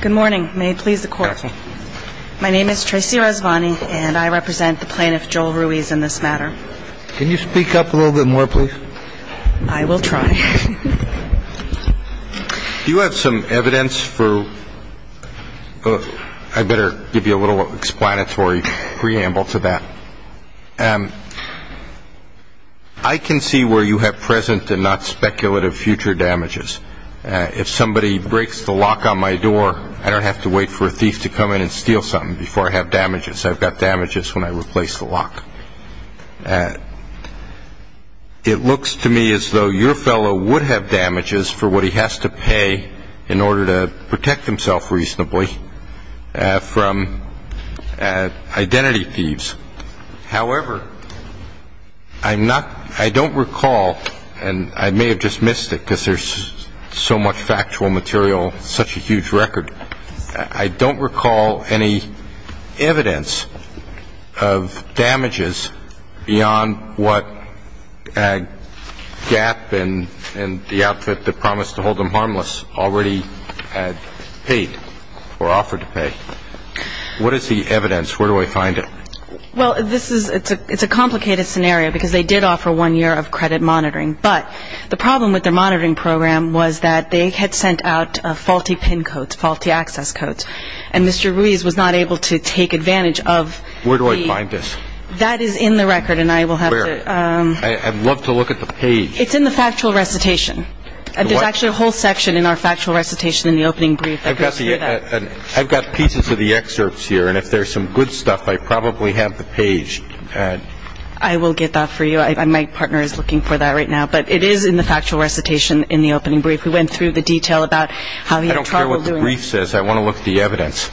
Good morning. May it please the Court. My name is Tracy Razvani, and I represent the plaintiff, Joel Ruiz, in this matter. Can you speak up a little bit more, please? I will try. Do you have some evidence for, I better give you a little explanatory preamble to that. I can see where you have present and not speculative future damages. If somebody breaks the lock on my door, I don't have to wait for a thief to come in and steal something before I have damages. I've got damages when I replace the lock. It looks to me as though your fellow would have damages for what he has to pay in order to protect himself reasonably from identity thieves. However, I'm not, I don't recall, and I may have just missed it because there's so much factual material, such a huge record. I don't recall any evidence of damages beyond what Gap and the outfit that promised to hold him harmless already paid or offered to pay. What is the evidence? Where do I find it? Well, this is, it's a complicated scenario because they did offer one year of credit monitoring. But the problem with their monitoring program was that they had sent out faulty pin codes, faulty access codes. And Mr. Ruiz was not able to take advantage of the... Where do I find this? That is in the record and I will have to... Where? I'd love to look at the page. It's in the factual recitation. There's actually a whole section in our factual recitation in the opening brief that goes through that. I've got pieces of the excerpts here and if there's some good stuff I probably have the page. I will get that for you. My partner is looking for that right now. But it is in the factual recitation in the opening brief. We went through the detail about how he had trouble doing... I don't care what the brief says. I want to the evidence.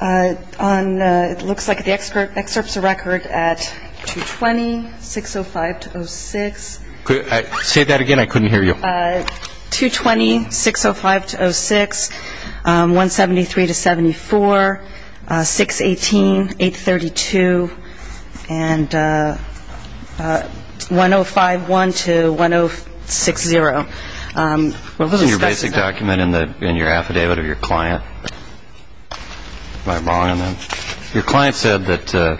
Uh, on, it looks like the excerpt is a record at 220-605-06. Say that again, I couldn't hear you. Uh, 220-605-06, um, 173-74, 618-832, and, uh, uh, 105-1 to 106-0. Um, we're a little specific. Isn't your basic document in the, in your affidavit or your client? Am I wrong on that? Your client said that, uh,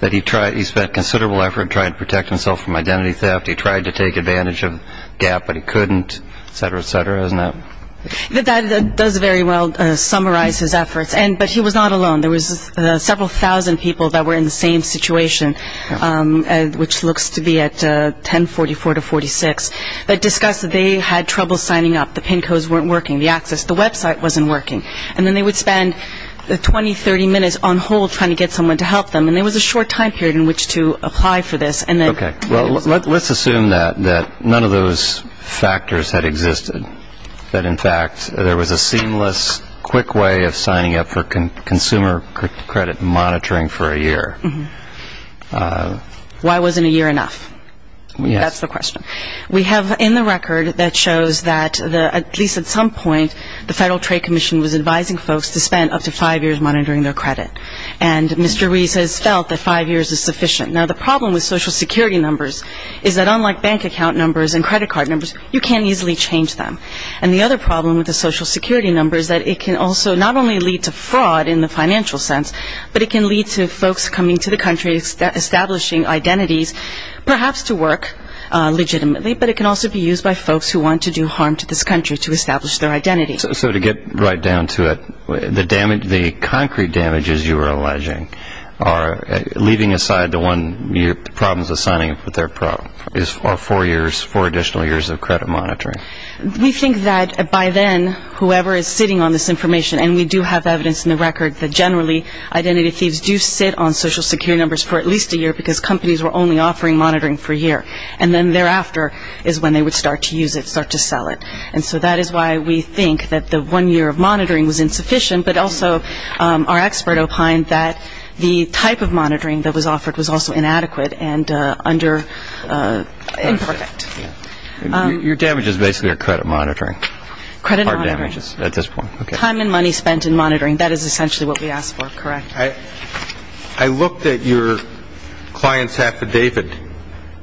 that he tried, he spent considerable effort to try and protect him. He tried to take advantage of GAP, but he couldn't, et cetera, et cetera. Isn't that? That, that does very well, uh, summarize his efforts. And, but he was not alone. There was, uh, several thousand people that were in the same situation, um, uh, which looks to be at, uh, 1044-46, that discussed that they had trouble signing up. The PIN codes weren't working. The access, the website wasn't working. And then they would spend, uh, 20, 30 minutes on hold trying to get someone to help them. And there was a short time period in which to apply for this. those factors had existed, that, in fact, there was a seamless, quick way of signing up for consumer credit monitoring for a year. Mm-hmm. Why wasn't a year enough? Yes. That's the question. We have in the record that shows that the, at least at some point, the Federal Trade Commission was advising folks to spend up to five years monitoring their credit. And Mr. Reese has felt that five years is sufficient. Now, the problem with Social Security numbers is that unlike bank account numbers and credit card numbers, you can't easily change them. And the other problem with the Social Security numbers is that it can also not only lead to fraud in the financial sense, but it can lead to folks coming to the country establishing identities perhaps to work, uh, legitimately, but it can also be used by folks who want to do harm to this country to establish their identity. So to get right down to it, the damage, the concrete damages you were alleging are leaving aside the one year, the problems of signing up with their pro, or four years, four additional years of credit monitoring. We think that by then, whoever is sitting on this information, and we do have evidence in the record that generally identity thieves do sit on Social Security numbers for at least a year because companies were only offering monitoring for a year. And then thereafter is when they would start to use it, start to sell it. And so that is why we think that the one year of monitoring was insufficient. But also, um, our expert opined that the type of monitoring that was offered was also inadequate and, uh, under, uh, imperfect. Your damages basically are credit monitoring? Credit monitoring. Hard damages at this point. Okay. Time and money spent in monitoring. That is essentially what we asked for. Correct? I, I looked at your client's affidavit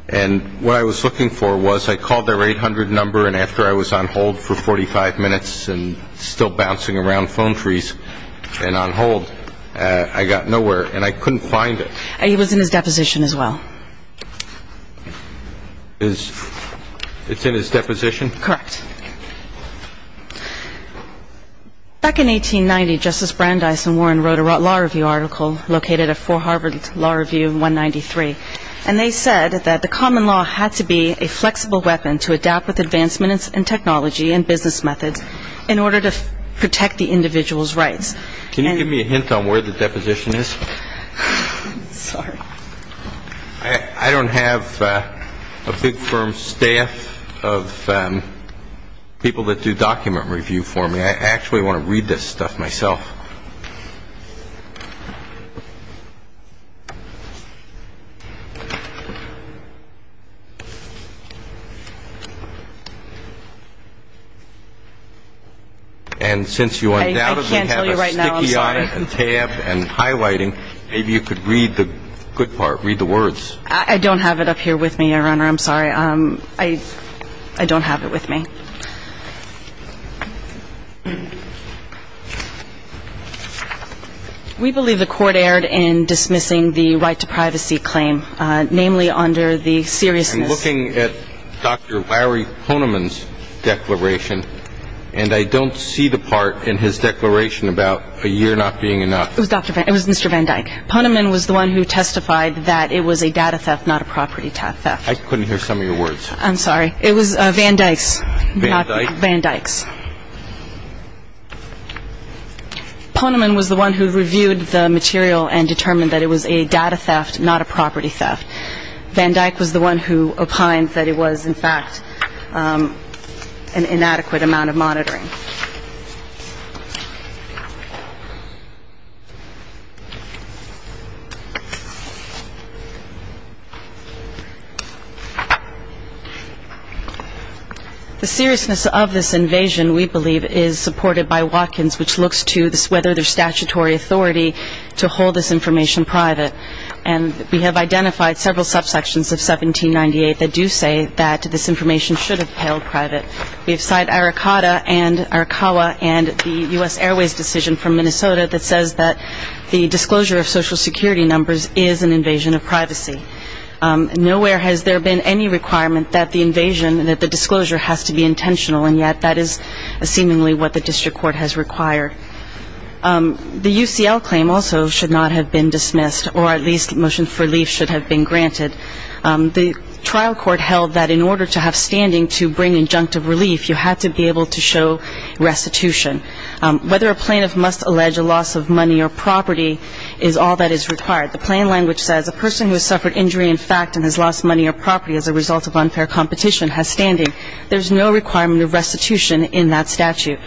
and what I was looking for was I called their 800 number and after I was on hold for 45 minutes and still bouncing around phone trees and on hold, uh, I got nowhere and I couldn't find it. He was in his deposition as well. Is, it's in his deposition? Correct. Back in 1890, Justice Brandeis and Warren wrote a law review article located at 4 Harvard Law Review 193. And they said that the common law had to be a flexible weapon to adapt with advancements in technology and business methods in order to protect the individual's rights. Can you give me a hint on where the deposition is? Sorry. I, I don't have, uh, a big firm staff of, um, people that do document review for me. I actually want to read this stuff myself. And since you undoubtedly have a sticky eye and tabbed and highlighting, maybe you could read the good part, read the words. I don't have it up here with me, Your Honor. I'm sorry. I, I don't have it with me. We believe the court erred in dismissing the right to privacy claim, uh, namely under the seriousness. I'm looking at Dr. Larry Poneman's declaration and I don't see the part in his declaration about a year not being enough. It was Dr. Van, it was Mr. Van Dyck. Poneman was the one who testified that it was a data theft, not a property theft. I couldn't hear some of your words. I'm sorry. It was, uh, Van Dyck's. Van Dyck? Van Dyck's. Poneman was the one who reviewed the material and determined that it was a data theft, not a property theft. Van Dyck was the one who opined that it was, in fact, um, an inadequate amount of monitoring. The seriousness of this invasion, we believe, is supported by Watkins, which looks to this, whether there's statutory authority to hold this information private. And we have identified several subsections of 1798 that do say that this information should have held private. We have cited Arakata and Arakawa and the U.S. Airways decision from Minnesota that says that the disclosure of social security numbers is an invasion of privacy. Nowhere has there been any requirement that the invasion, that the disclosure has to be intentional and yet that is seemingly what the district court has required. The UCL claim also should not have been dismissed or at least motion for relief should have been granted. The trial court held that in order to have standing to bring injunctive relief, you had to be able to show restitution. Whether a plaintiff must allege a loss of money or property is all that is required. The plain language says a person who has suffered injury in fact and has lost money or property as a result of unfair competition has standing. There's no requirement of restitution in that statute.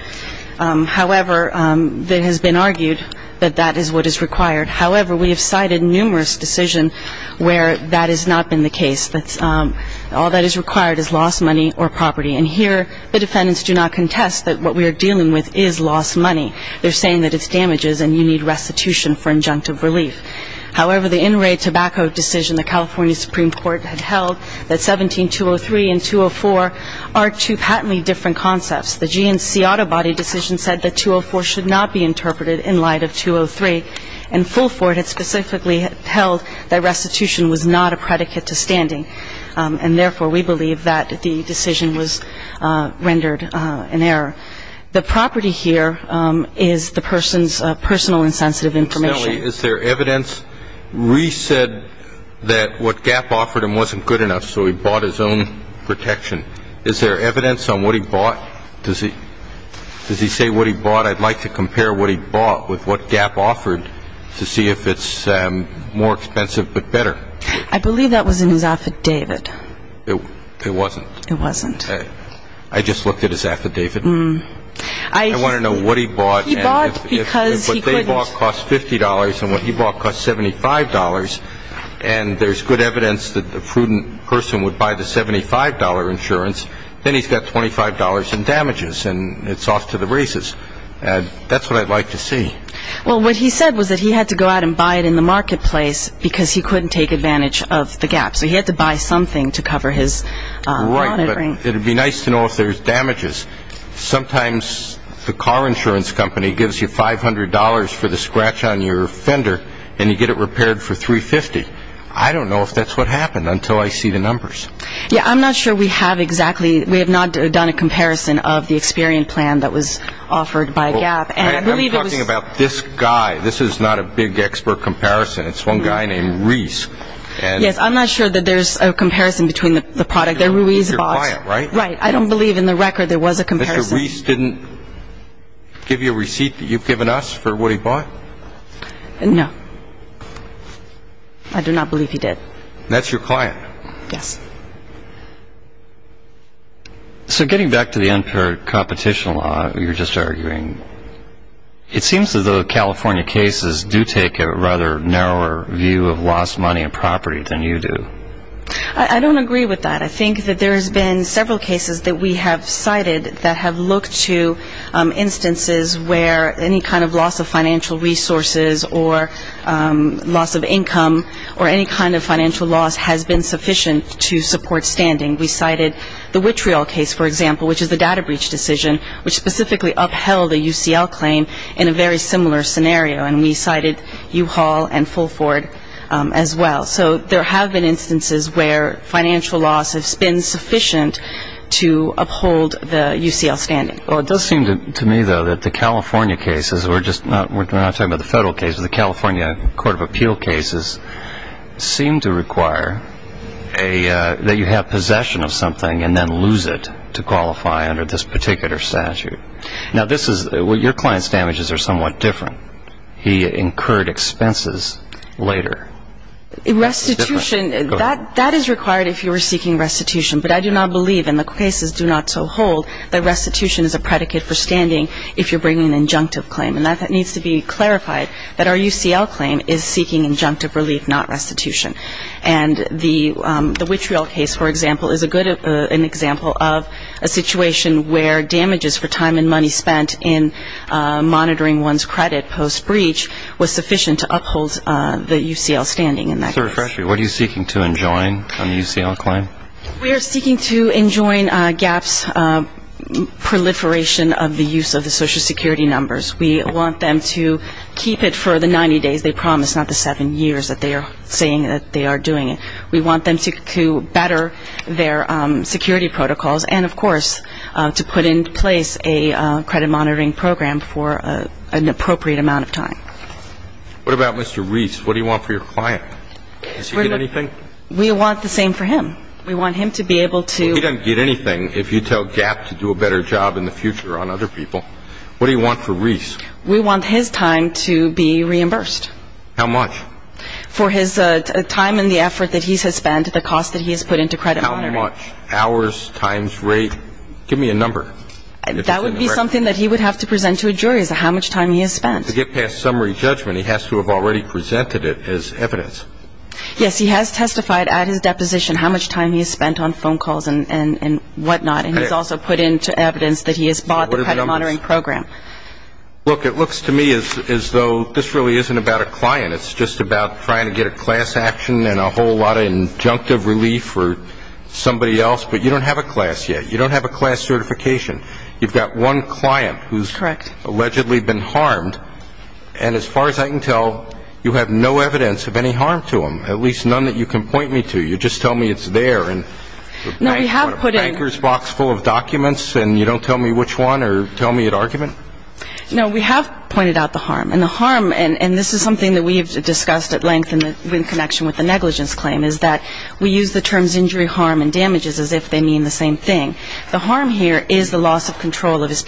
However, it has been argued that that is what is required. However, we have cited numerous decisions where that has not been the case. All that is required is lost money or property and here the defendants do not contest that what we are dealing with is lost money. They're saying that it's damages and you need restitution for injunctive relief. However, the in-ray tobacco decision the California Supreme Court had held that 17-203 and 204 are two patently different concepts. The GNC auto body decision said that 204 should not be interpreted in light of 203 and Fulford had specifically held that restitution was not a predicate to standing. And therefore, we believe that the decision was rendered an error. The property here is the person's personal and sensitive information. Is there evidence? Reese said that what Gap offered him wasn't good enough so he bought his own protection. Is there evidence on what he bought? Does he say what he bought? I'd like to compare what he bought with what Gap offered to see if it's more expensive but better. I believe that was in his affidavit. It wasn't. It wasn't. I just looked at his affidavit. I want to know what he bought and if what they bought cost $50 and what he bought cost $75 and there's good evidence that the prudent person would buy the $75 insurance, then he's got $25 in damages and it's off to the races. That's what I'd like to see. Well, what he said was that he had to go out and buy it in the marketplace because he couldn't take advantage of the Gap. So he had to buy something to cover his monitoring. Right, but it would be nice to know if there's damages. Sometimes the car insurance company gives you $500 for the scratch on your fender and you get it repaired for $350. I don't know if that's what happened until I see the numbers. Yeah, I'm not sure we have exactly. We have not done a comparison of the Experian plan that was offered by Gap. I'm talking about this guy. This is not a big expert comparison. It's one guy named Reese. Yes, I'm not sure that there's a comparison between the product that Ruiz bought. He's your client, right? Right. I don't believe in the record there was a comparison. Mr. Reese didn't give you a receipt that you've given us for what he bought? No. I do not believe he did. That's your client? Yes. So getting back to the unpaired competition law you were just arguing, it seems as though California cases do take a rather narrower view of lost money and property than you do. I don't agree with that. I think that there's been several cases that we have cited that have looked to instances where any kind of loss of financial resources or loss of income or any kind of financial loss has been sufficient to support standing. We cited the Wittreal case, for example, which is the data breach decision, which specifically upheld a UCL claim in a very similar scenario. And we cited U-Haul and Full Ford as well. So there have been instances where financial loss has been sufficient to uphold the UCL standing. Well, it does seem to me, though, that the California cases, we're not talking about the federal cases, the California Court of Appeal cases seem to require that you have possession of something and then lose it to qualify under this particular statute. Now, your client's damages are somewhat different. He incurred expenses later. Restitution, that is required if you were seeking restitution, but I do not believe in the cases do not so hold that restitution is a predicate for standing if you're bringing an injunctive claim. And that needs to be clarified, that our UCL claim is seeking injunctive relief, not restitution. And the Wittreal case, for example, is a good example of a situation where damages for time and money spent in monitoring one's credit post-breach was sufficient to uphold the UCL standing. What are you seeking to enjoin on the UCL claim? We are seeking to enjoin GAP's proliferation of the use of the Social Security numbers. We want them to keep it for the 90 days they promise, not the seven years that they are saying that they are doing it. We want them to better their security protocols and, of course, to put in place a credit monitoring program for an appropriate amount of time. What about Mr. Reese? What do you want for your client? Does he get anything? We want the same for him. We want him to be able to – Well, he doesn't get anything if you tell GAP to do a better job in the future on other people. What do you want for Reese? We want his time to be reimbursed. How much? For his time and the effort that he has spent, the cost that he has put into credit monitoring. How much? Hours? Times? Rate? Give me a number. That would be something that he would have to present to a jury as to how much time he has spent. To get past summary judgment, he has to have already presented it as evidence. Yes, he has testified at his deposition how much time he has spent on phone calls and whatnot, and he has also put into evidence that he has bought the credit monitoring program. Look, it looks to me as though this really isn't about a client. It's just about trying to get a class action and a whole lot of injunctive relief for somebody else, but you don't have a class yet. You don't have a class certification. You've got one client who has allegedly been harmed, and as far as I can tell, you have no evidence of any harm to him, at least none that you can point me to. You just tell me it's there in a banker's box full of documents, and you don't tell me which one or tell me at argument? No, we have pointed out the harm, and the harm, and this is something that we have discussed at length in connection with the negligence claim, is that we use the terms injury, harm, and damages as if they mean the same thing. The harm here is the loss of control of his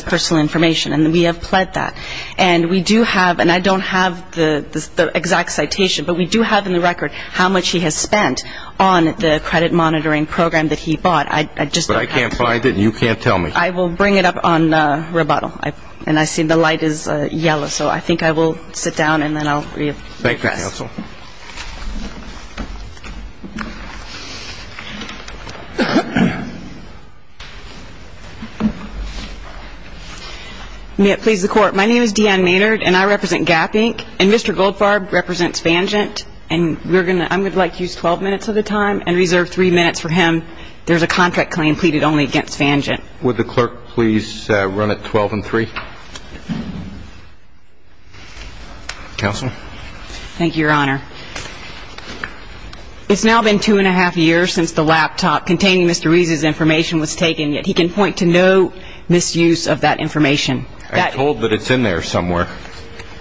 personal information, and we have pled that. And we do have, and I don't have the exact citation, but we do have in the record how much he has spent on the credit monitoring program that he bought. I just don't have that. But I can't find it, and you can't tell me. I will bring it up on rebuttal. And I see the light is yellow, so I think I will sit down, and then I'll read this. Thank you, counsel. May it please the Court. My name is Deanne Maynard, and I represent Gap, Inc., and Mr. Goldfarb represents Vanjant. And I would like to use 12 minutes of the time and reserve three minutes for him. There is a contract claim pleaded only against Vanjant. Would the clerk please run it 12 and 3? Counsel. Thank you, Your Honor. It's now been two-and-a-half years since the laptop containing Mr. Reese's information was taken, yet he can point to no misuse of that information. I'm told that it's in there somewhere.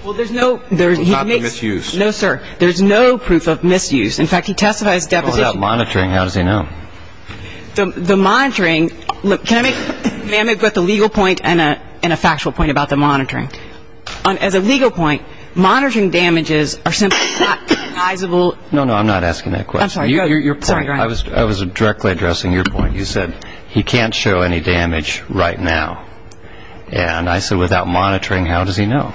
Well, there's no proof of misuse. No, sir. There's no proof of misuse. In fact, he testifies deposition. What about monitoring? How does he know? As a legal point, monitoring damages are simply not recognizable. No, no. I'm not asking that question. I'm sorry. Your point. I was directly addressing your point. You said he can't show any damage right now. And I said without monitoring, how does he know?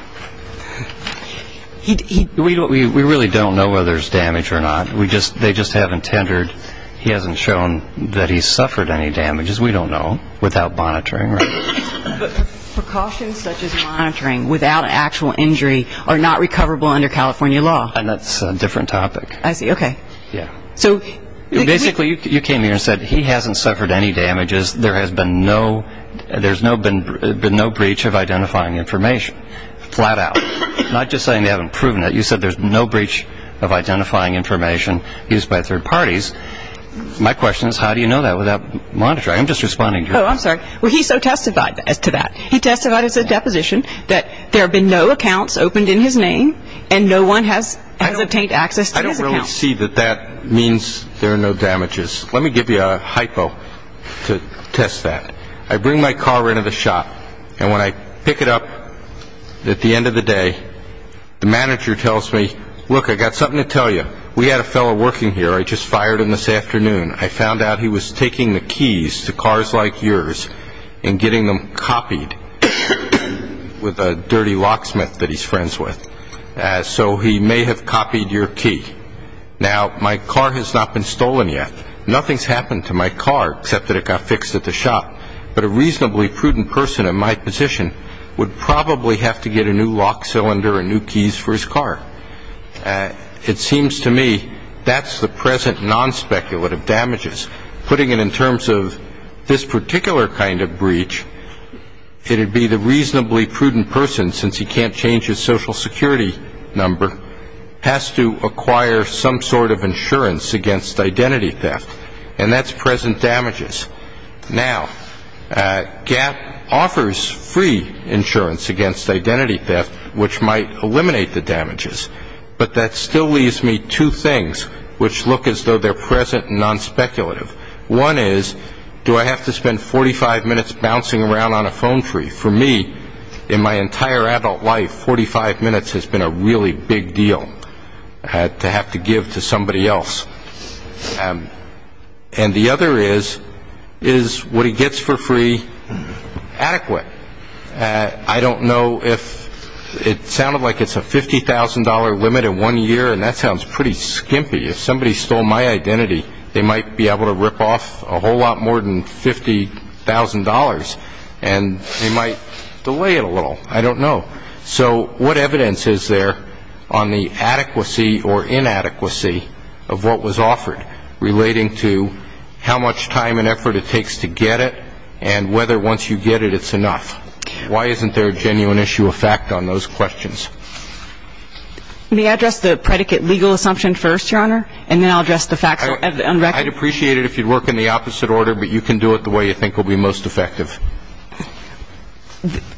We really don't know whether there's damage or not. They just haven't tendered. He hasn't shown that he's suffered any damages. We don't know without monitoring. But precautions such as monitoring without actual injury are not recoverable under California law. And that's a different topic. I see. Okay. Basically, you came here and said he hasn't suffered any damages. There has been no breach of identifying information. Flat out. I'm not just saying they haven't proven it. You said there's no breach of identifying information used by third parties. My question is how do you know that without monitoring? I'm just responding to your question. Oh, I'm sorry. Well, he so testified to that. He testified as a deposition that there have been no accounts opened in his name and no one has obtained access to his account. I don't really see that that means there are no damages. Let me give you a hypo to test that. I bring my car into the shop, and when I pick it up, at the end of the day, the manager tells me, look, I've got something to tell you. We had a fellow working here. I just fired him this afternoon. I found out he was taking the keys to cars like yours and getting them copied with a dirty locksmith that he's friends with. So he may have copied your key. Now, my car has not been stolen yet. Nothing's happened to my car except that it got fixed at the shop. But a reasonably prudent person in my position would probably have to get a new lock cylinder and new keys for his car. It seems to me that's the present non-speculative damages. Putting it in terms of this particular kind of breach, it would be the reasonably prudent person, since he can't change his Social Security number, has to acquire some sort of insurance against identity theft, and that's present damages. Now, GAP offers free insurance against identity theft, which might eliminate the damages, but that still leaves me two things which look as though they're present and non-speculative. One is, do I have to spend 45 minutes bouncing around on a phone tree? For me, in my entire adult life, 45 minutes has been a really big deal to have to give to somebody else. And the other is, is what he gets for free adequate? I don't know if it sounded like it's a $50,000 limit in one year, and that sounds pretty skimpy. If somebody stole my identity, they might be able to rip off a whole lot more than $50,000, and they might delay it a little. I don't know. So what evidence is there on the adequacy or inadequacy of what was offered, relating to how much time and effort it takes to get it, and whether once you get it, it's enough? Why isn't there a genuine issue of fact on those questions? Let me address the predicate legal assumption first, Your Honor, and then I'll address the facts on record. I'd appreciate it if you'd work in the opposite order, but you can do it the way you think will be most effective.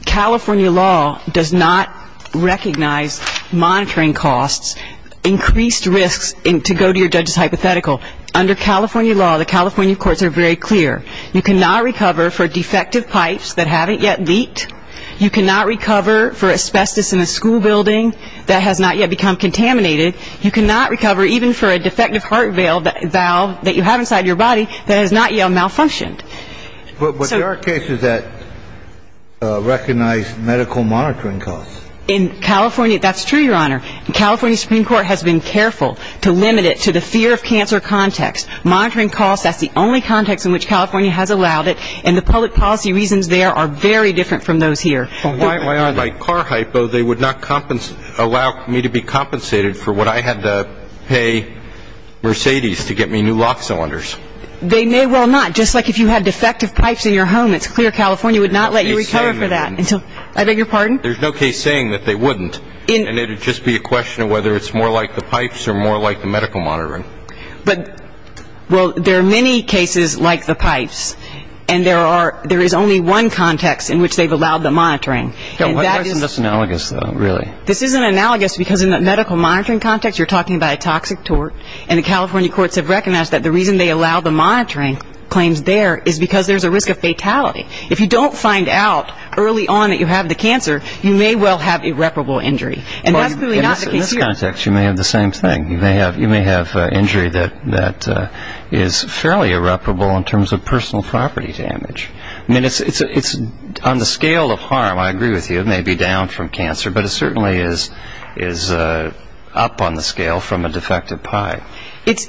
California law does not recognize monitoring costs, increased risks, to go to your judge's hypothetical. Under California law, the California courts are very clear. You cannot recover for defective pipes that haven't yet leaked. You cannot recover for asbestos in a school building that has not yet become contaminated. You cannot recover even for a defective heart valve that you have inside your body that has not yet malfunctioned. But there are cases that recognize medical monitoring costs. In California, that's true, Your Honor. The California Supreme Court has been careful to limit it to the fear of cancer context. Monitoring costs, that's the only context in which California has allowed it, and the public policy reasons there are very different from those here. Why are they? My car hypo, they would not allow me to be compensated for what I had to pay Mercedes to get me new lock cylinders. They may well not. Just like if you had defective pipes in your home, it's clear California would not let you recover for that. I beg your pardon? There's no case saying that they wouldn't, and it would just be a question of whether it's more like the pipes or more like the medical monitoring. Well, there are many cases like the pipes, and there is only one context in which they've allowed the monitoring. Why isn't this analogous, though, really? This isn't analogous because in the medical monitoring context, you're talking about a toxic tort, and the California courts have recognized that the reason they allow the monitoring claims there is because there's a risk of fatality. If you don't find out early on that you have the cancer, you may well have irreparable injury, and that's really not the case here. In this context, you may have the same thing. You may have injury that is fairly irreparable in terms of personal property damage. I mean, it's on the scale of harm, I agree with you. It may be down from cancer, but it certainly is up on the scale from a defective pipe. It's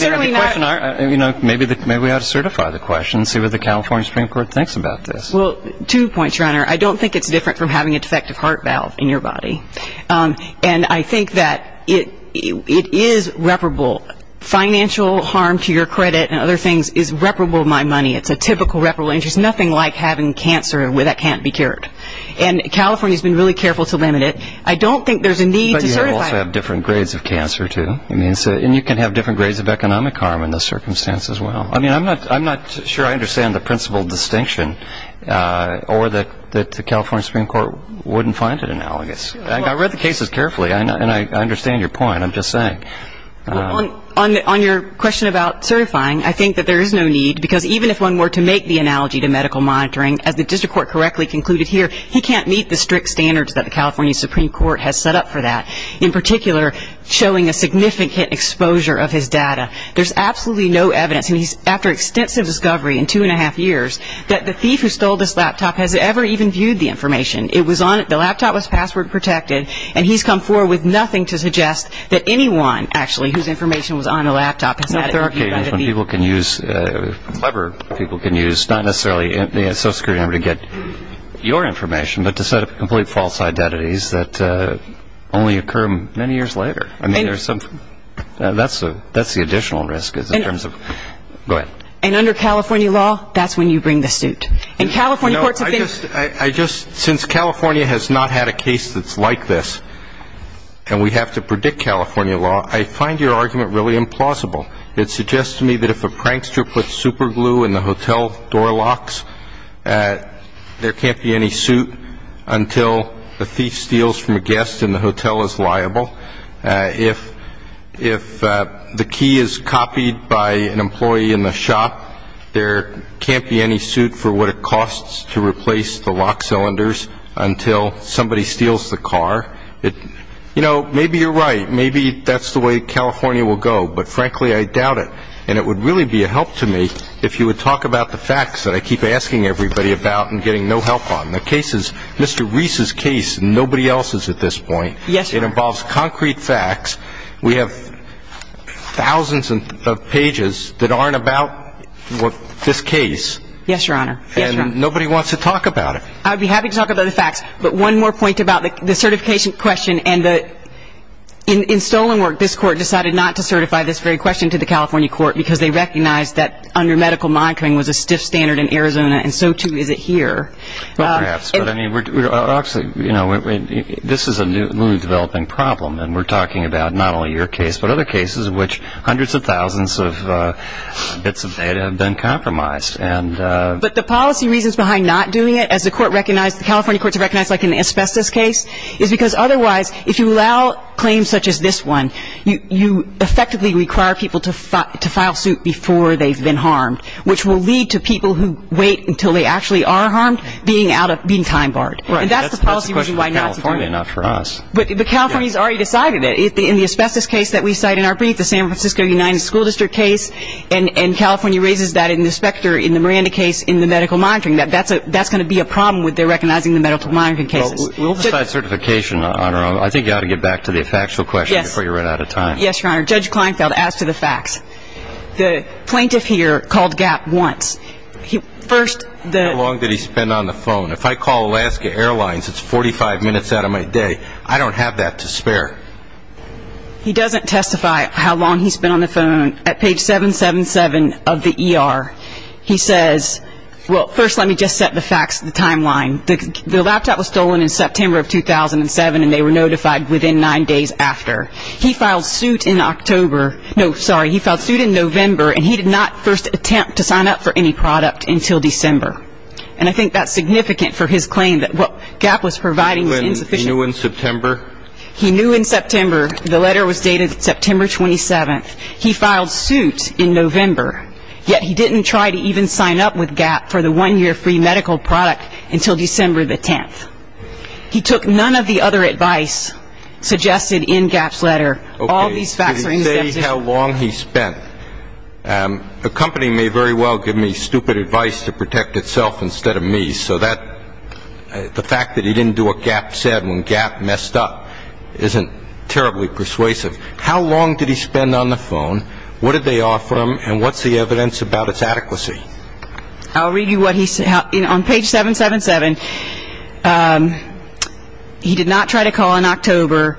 certainly not. You know, maybe we ought to certify the question and see what the California Supreme Court thinks about this. Well, two points, Your Honor. I don't think it's different from having a defective heart valve in your body, and I think that it is reparable. Financial harm to your credit and other things is reparable to my money. It's a typical reparable injury. There's nothing like having cancer that can't be cured. And California has been really careful to limit it. I don't think there's a need to certify it. But you also have different grades of cancer, too. And you can have different grades of economic harm in this circumstance as well. I mean, I'm not sure I understand the principal distinction or that the California Supreme Court wouldn't find it analogous. I read the cases carefully, and I understand your point. I'm just saying. On your question about certifying, I think that there is no need, because even if one were to make the analogy to medical monitoring, as the district court correctly concluded here, he can't meet the strict standards that the California Supreme Court has set up for that, in particular showing a significant exposure of his data. There's absolutely no evidence, and he's after extensive discovery in two and a half years, that the thief who stole this laptop has ever even viewed the information. It was on it. The laptop was password protected. And he's come forward with nothing to suggest that anyone, actually, whose information was on the laptop has ever viewed it. There are cases when people can use, clever people can use, not necessarily the social security number to get your information, but to set up complete false identities that only occur many years later. I mean, there's some, that's the additional risk in terms of, go ahead. And under California law, that's when you bring the suit. And California courts have been. I just, since California has not had a case that's like this, and we have to predict California law, I find your argument really implausible. It suggests to me that if a prankster puts super glue in the hotel door locks, there can't be any suit until the thief steals from a guest and the hotel is liable. If the key is copied by an employee in the shop, there can't be any suit for what it costs to replace the lock cylinders until somebody steals the car. You know, maybe you're right. Maybe that's the way California will go. But, frankly, I doubt it. And it would really be a help to me if you would talk about the facts that I keep asking everybody about and getting no help on. The case is Mr. Reese's case and nobody else's at this point. Yes, Your Honor. It involves concrete facts. We have thousands of pages that aren't about this case. Yes, Your Honor. And nobody wants to talk about it. I'd be happy to talk about the facts. But one more point about the certification question. And in stolen work, this court decided not to certify this very question to the California court because they recognized that under medical monitoring was a stiff standard in Arizona and so, too, is it here. Well, perhaps. But, I mean, obviously, you know, this is a newly developing problem. And we're talking about not only your case but other cases in which hundreds of thousands of bits of data have been compromised. But the policy reasons behind not doing it, as the California courts have recognized, like in the asbestos case, is because otherwise if you allow claims such as this one, you effectively require people to file suit before they've been harmed, which will lead to people who wait until they actually are harmed being time barred. Right. And that's the policy reason why not to do it. That's the question for California, not for us. But California's already decided it. In the asbestos case that we cite in our brief, the San Francisco United School District case, and California raises that in the Specter, in the Miranda case, in the medical monitoring, that's going to be a problem with their recognizing the medical monitoring cases. Well, we'll decide certification, Your Honor. I think you ought to get back to the factual question before you run out of time. Yes, Your Honor. Judge Kleinfeld, as to the facts. The plaintiff here called Gap once. How long did he spend on the phone? If I call Alaska Airlines, it's 45 minutes out of my day. I don't have that to spare. He doesn't testify how long he spent on the phone. At page 777 of the ER, he says, well, first let me just set the facts, the timeline. The laptop was stolen in September of 2007, and they were notified within nine days after. He filed suit in October. No, sorry. He filed suit in November, and he did not first attempt to sign up for any product until December. And I think that's significant for his claim that what Gap was providing was insufficient. He knew in September? He knew in September. The letter was dated September 27th. He filed suit in November, yet he didn't try to even sign up with Gap for the one-year free medical product until December the 10th. He took none of the other advice suggested in Gap's letter. Okay. All these facts are in the statute. Did he say how long he spent? Accompanying me very well, give me stupid advice to protect itself instead of me, so the fact that he didn't do what Gap said when Gap messed up isn't terribly persuasive. How long did he spend on the phone? What did they offer him? And what's the evidence about its adequacy? I'll read you what he said. On page 777, he did not try to call in October.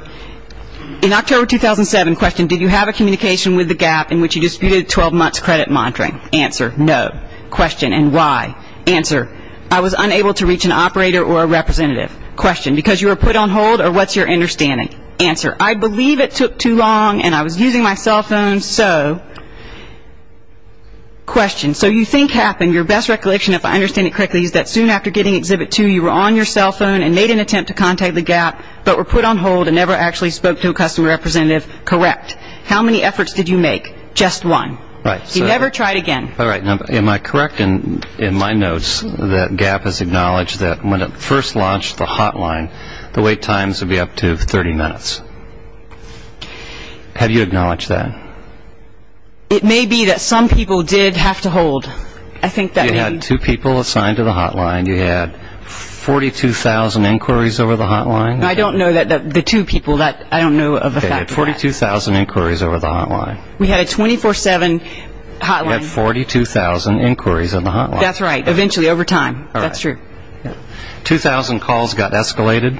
In October 2007, question, did you have a communication with the Gap in which you disputed 12 months credit monitoring? Answer, no. Question, and why? Answer, I was unable to reach an operator or a representative. Question, because you were put on hold or what's your understanding? Answer, I believe it took too long and I was using my cell phone, so. Question, so you think happened, your best recollection, if I understand it correctly, is that soon after getting Exhibit 2, you were on your cell phone and made an attempt to contact the Gap, but were put on hold and never actually spoke to a customer representative. Correct. How many efforts did you make? Just one. Right. You never tried again. All right. Am I correct in my notes that Gap has acknowledged that when it first launched the hotline, the wait times would be up to 30 minutes? Have you acknowledged that? It may be that some people did have to hold. I think that may be. You had two people assigned to the hotline. You had 42,000 inquiries over the hotline. I don't know that the two people, I don't know of a fact of that. You had 42,000 inquiries over the hotline. We had a 24-7 hotline. You had 42,000 inquiries over the hotline. That's right, eventually, over time. That's true. 2,000 calls got escalated.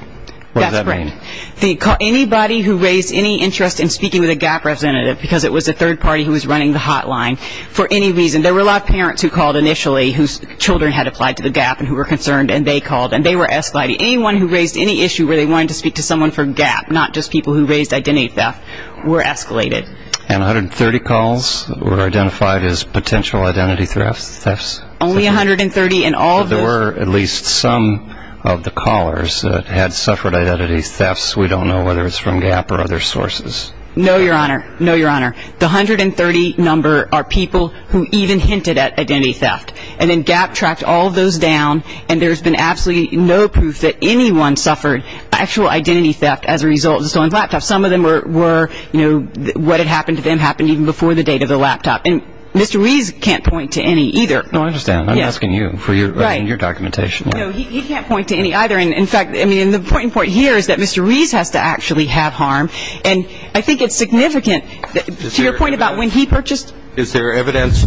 What does that mean? That's correct. Anybody who raised any interest in speaking with a Gap representative, because it was a third party who was running the hotline, for any reason, there were a lot of parents who called initially whose children had applied to the Gap and who were concerned, and they called, and they were escalated. Anyone who raised any issue where they wanted to speak to someone from Gap, not just people who raised identity theft, were escalated. And 130 calls were identified as potential identity thefts? Only 130 in all. Well, there were at least some of the callers that had suffered identity thefts. We don't know whether it's from Gap or other sources. No, Your Honor. No, Your Honor. The 130 number are people who even hinted at identity theft. And then Gap tracked all of those down, and there's been absolutely no proof that anyone suffered actual identity theft as a result of the stolen laptop. Some of them were, you know, what had happened to them happened even before the date of the laptop. And Mr. Rees can't point to any either. No, I understand. I'm asking you for your documentation. No, he can't point to any either. In fact, I mean, the point here is that Mr. Rees has to actually have harm, and I think it's significant. To your point about when he purchased. Is there evidence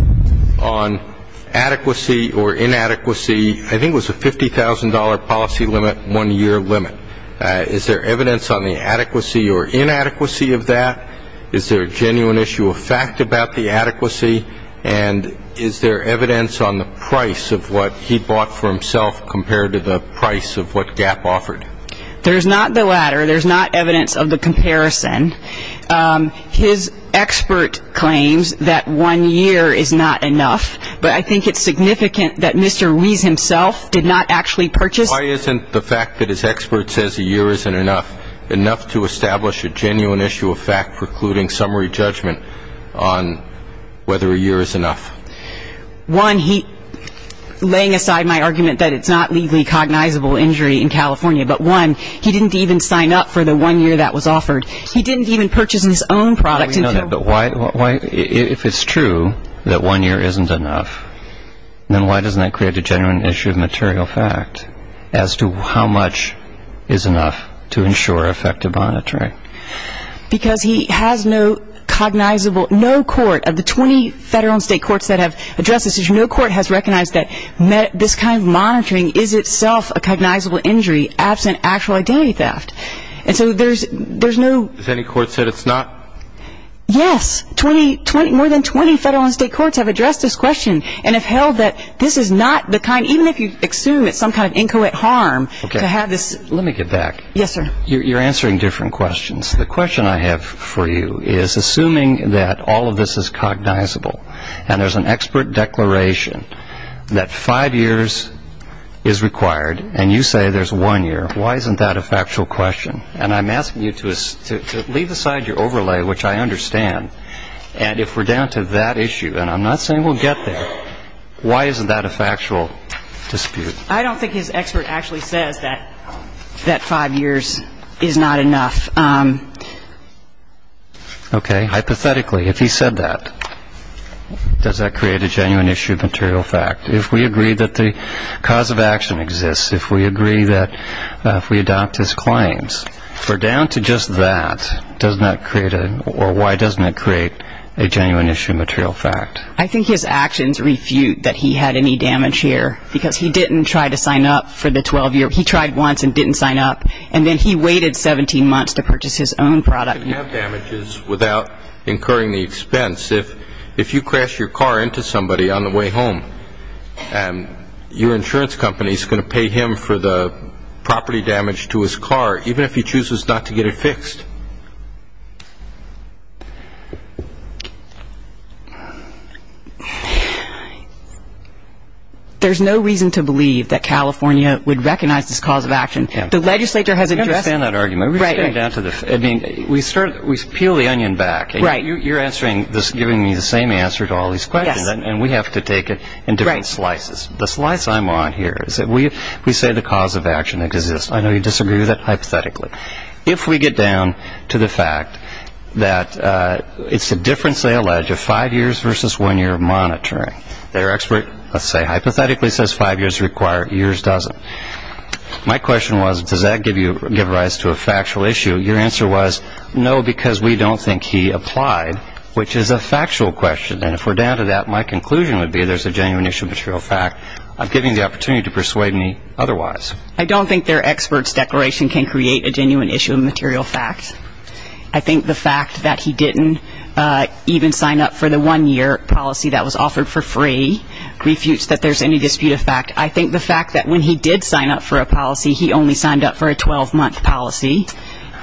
on adequacy or inadequacy? I think it was a $50,000 policy limit, one-year limit. Is there evidence on the adequacy or inadequacy of that? Is there a genuine issue of fact about the adequacy? And is there evidence on the price of what he bought for himself compared to the price of what Gap offered? There's not the latter. There's not evidence of the comparison. His expert claims that one year is not enough, but I think it's significant that Mr. Rees himself did not actually purchase. Why isn't the fact that his expert says a year isn't enough, enough to establish a genuine issue of fact precluding summary judgment on whether a year is enough? One, laying aside my argument that it's not legally cognizable injury in California, but one, he didn't even sign up for the one year that was offered. He didn't even purchase his own product. But why, if it's true that one year isn't enough, then why doesn't that create a genuine issue of material fact as to how much is enough to ensure effective monitoring? Because he has no cognizable, no court of the 20 federal and state courts that have addressed this issue, no court has recognized that this kind of monitoring is itself a cognizable injury absent actual identity theft. And so there's no... Has any court said it's not? Yes. More than 20 federal and state courts have addressed this question and have held that this is not the kind, even if you assume it's some kind of inchoate harm to have this... Let me get back. Yes, sir. You're answering different questions. The question I have for you is, assuming that all of this is cognizable and there's an expert declaration that five years is required and you say there's one year, why isn't that a factual question? And I'm asking you to leave aside your overlay, which I understand, and if we're down to that issue, and I'm not saying we'll get there, why isn't that a factual dispute? I don't think his expert actually says that five years is not enough. Okay. Hypothetically, if he said that, does that create a genuine issue of material fact? If we agree that the cause of action exists, if we agree that if we adopt his claims, if we're down to just that, doesn't that create a... or why doesn't it create a genuine issue of material fact? I think his actions refute that he had any damage here because he didn't try to sign up for the 12-year. He tried once and didn't sign up. And then he waited 17 months to purchase his own product. You can have damages without incurring the expense. If you crash your car into somebody on the way home, your insurance company is going to pay him for the property damage to his car, even if he chooses not to get it fixed. There's no reason to believe that California would recognize this cause of action. The legislature has addressed... I don't understand that argument. Right. I mean, we peel the onion back. Right. You're answering this, giving me the same answer to all these questions. Yes. And we have to take it in different slices. Right. The slice I want here is that we say the cause of action exists. I know you disagree with that hypothetically. If we get down to the fact that it's a difference, they allege, of five years versus one year of monitoring. Their expert, let's say, hypothetically says five years require, years doesn't. My question was, does that give rise to a factual issue? Your answer was, no, because we don't think he applied, which is a factual question. And if we're down to that, my conclusion would be there's a genuine issue, but it's a real fact. I'm giving you the opportunity to persuade me otherwise. I don't think their expert's declaration can create a genuine issue of material fact. I think the fact that he didn't even sign up for the one-year policy that was offered for free refutes that there's any dispute of fact. I think the fact that when he did sign up for a policy, he only signed up for a 12-month policy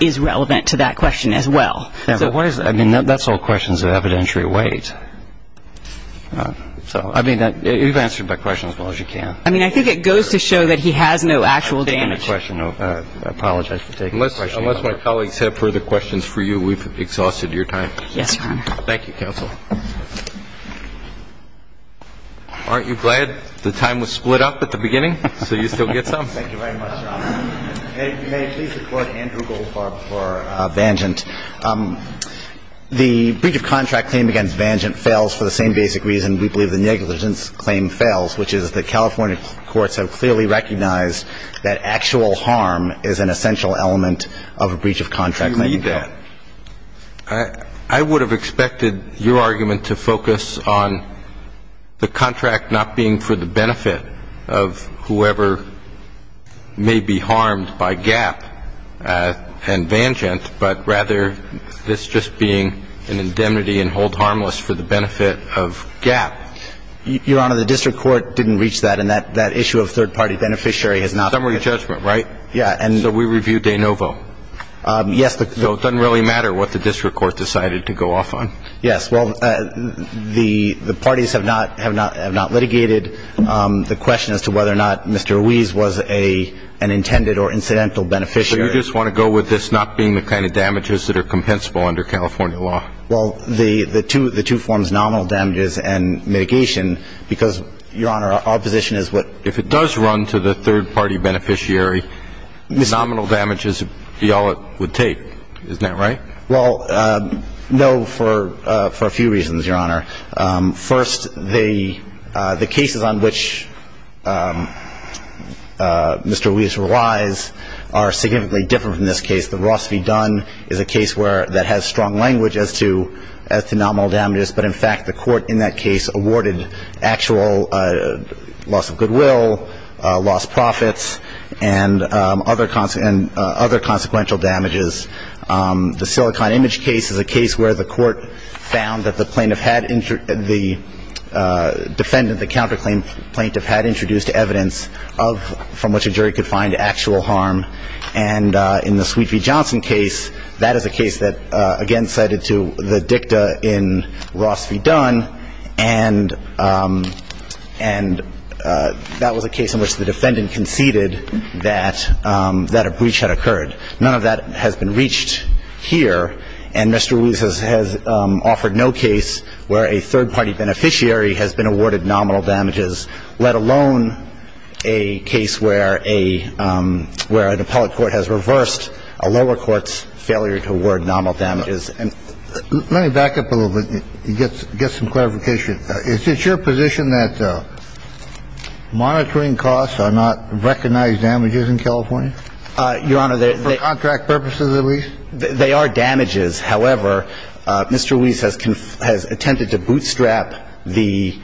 is relevant to that question as well. I mean, that's all questions of evidentiary weight. So, I mean, you've answered my question as well as you can. I mean, I think it goes to show that he has no actual damage. Unless my colleagues have further questions for you, we've exhausted your time. Yes, Your Honor. Thank you, counsel. Aren't you glad the time was split up at the beginning so you still get some? Thank you very much, Your Honor. May I please support Andrew Goldfarb for Vangent? The breach of contract claim against Vangent fails for the same basic reason we believe the negligence claim fails, which is that California courts have clearly recognized that actual harm is an essential element of a breach of contract claim. Do you believe that? I would have expected your argument to focus on the contract not being for the benefit of whoever may be harmed by Gap and Vangent, but rather this just being an indemnity and hold harmless for the benefit of Gap. Your Honor, the district court didn't reach that, and that issue of third-party beneficiary has not been ---- Summary judgment, right? Yeah, and ---- So we review de novo? Yes, the ---- So it doesn't really matter what the district court decided to go off on? Yes. Well, the parties have not litigated the question as to whether or not Mr. Ruiz was an intended or incidental beneficiary. So you just want to go with this not being the kind of damages that are compensable under California law? Well, the two forms, nominal damages and mitigation, because, Your Honor, our position is what ---- If it does run to the third-party beneficiary, nominal damages would be all it would take. Isn't that right? Well, no, for a few reasons, Your Honor. First, the cases on which Mr. Ruiz relies are significantly different from this case. The Ross v. Dunn is a case where that has strong language as to nominal damages, but, in fact, the court in that case awarded actual loss of goodwill, lost profits, and other consequential damages. The Silicon Image case is a case where the court found that the plaintiff had ---- the defendant, the counterclaim plaintiff, had introduced evidence of ---- from which a jury could find actual harm. And in the Sweet v. Johnson case, that is a case that, again, cited to the dicta in Ross v. Dunn, and that was a case in which the defendant conceded that a breach had occurred. None of that has been reached here, and Mr. Ruiz has offered no case where a third-party beneficiary has been awarded nominal damages, let alone a case where a ---- where an appellate court has reversed a lower court's failure to award nominal damages. Let me back up a little bit to get some clarification. Is it your position that monitoring costs are not recognized damages in California? Your Honor, they're ---- For contract purposes at least? They are damages. However, Mr. Ruiz has attempted to bootstrap the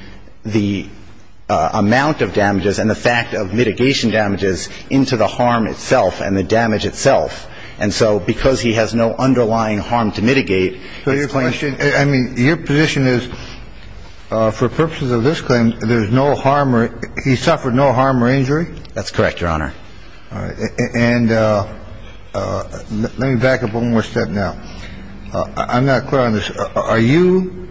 amount of damages and the fact of mitigation damages into the harm itself and the damage itself. And so because he has no underlying harm to mitigate, this claim ---- So your question ---- I mean, your position is for purposes of this claim, there's no harm or ---- he suffered no harm or injury? That's correct, Your Honor. All right. And let me back up one more step now. I'm not clear on this. Are you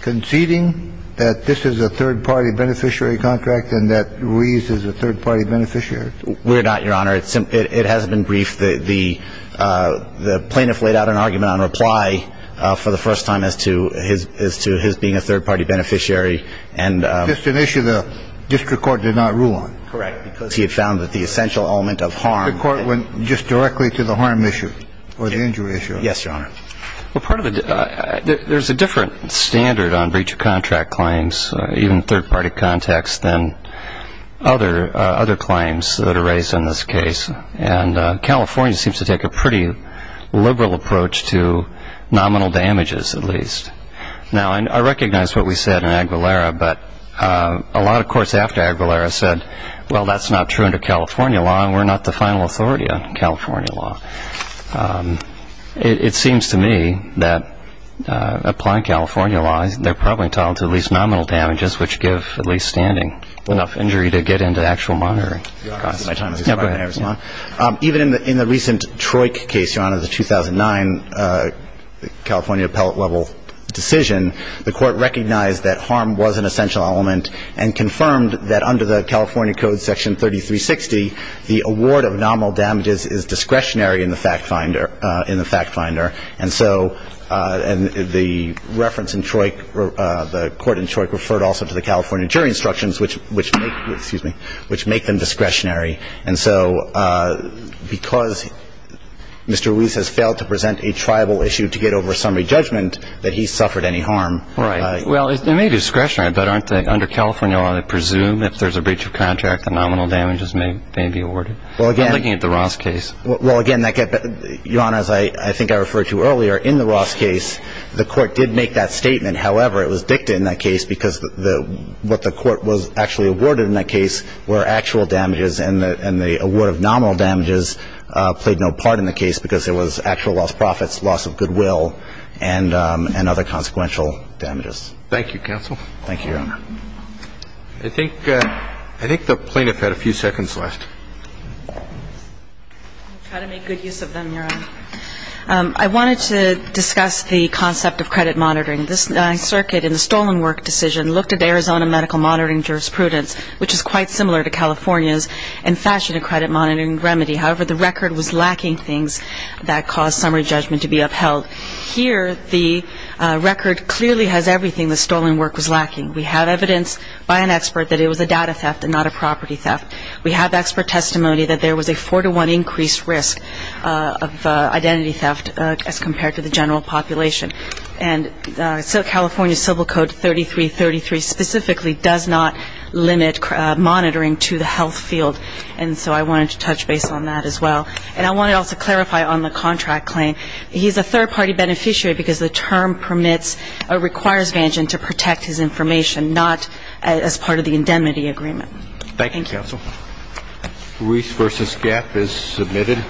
conceding that this is a third-party beneficiary contract and that Ruiz is a third-party beneficiary? We're not, Your Honor. It has been briefed. The plaintiff laid out an argument on reply for the first time as to his being a third-party beneficiary. And ---- Just an issue the district court did not rule on. Correct. Because he had found that the essential element of harm ---- The court went just directly to the harm issue or the injury issue. Yes, Your Honor. Well, part of the ---- there's a different standard on breach of contract claims, even third-party context, than other claims that are raised in this case. And California seems to take a pretty liberal approach to nominal damages, at least. Now, I recognize what we said in Aguilera, but a lot of courts after Aguilera said, well, that's not true under California law and we're not the final authority on California law. It seems to me that applying California law, they're probably entitled to at least nominal damages, which give at least standing enough injury to get into actual monitoring. Your Honor, this is my time. Yes, go ahead. Even in the recent Troik case, Your Honor, the 2009 California appellate-level decision, the court recognized that harm was an essential element and confirmed that under the California Code Section 3360, the award of nominal damages is discretionary in the fact finder. And so the reference in Troik, the court in Troik referred also to the California jury instructions, which make them discretionary. And so because Mr. Ruiz has failed to present a tribal issue to get over a summary judgment, that he suffered any harm. Right. Well, it may be discretionary, but under California law, they presume if there's a breach of contract, the nominal damages may be awarded. I'm looking at the Ross case. Well, again, Your Honor, as I think I referred to earlier, in the Ross case, the court did make that statement. However, it was dictated in that case because what the court was actually awarded in that case were actual damages, and the award of nominal damages played no part in the case because it was actual lost profits, loss of goodwill. And there was no additional damage to the case, but it was a loss of goodwill and other consequential damages. Thank you, counsel. Thank you, Your Honor. I think the plaintiff had a few seconds left. I'll try to make good use of them, Your Honor. I wanted to discuss the concept of credit monitoring. This circuit in the stolen work decision looked at Arizona medical monitoring jurisprudence, which is quite similar to California's, and fashioned a credit monitoring remedy. However, the record was lacking things that caused summary judgment to be upheld. Here, the record clearly has everything the stolen work was lacking. We have evidence by an expert that it was a data theft and not a property theft. We have expert testimony that there was a four-to-one increased risk of identity theft as compared to the general population. And so California Civil Code 3333 specifically does not limit monitoring to the health field. And so I wanted to touch base on that as well. And I want to also clarify on the contract claim. He's a third-party beneficiary because the term permits or requires Vanshin to protect his information, not as part of the indemnity agreement. Thank you, counsel. Ruiz v. Gap is submitted.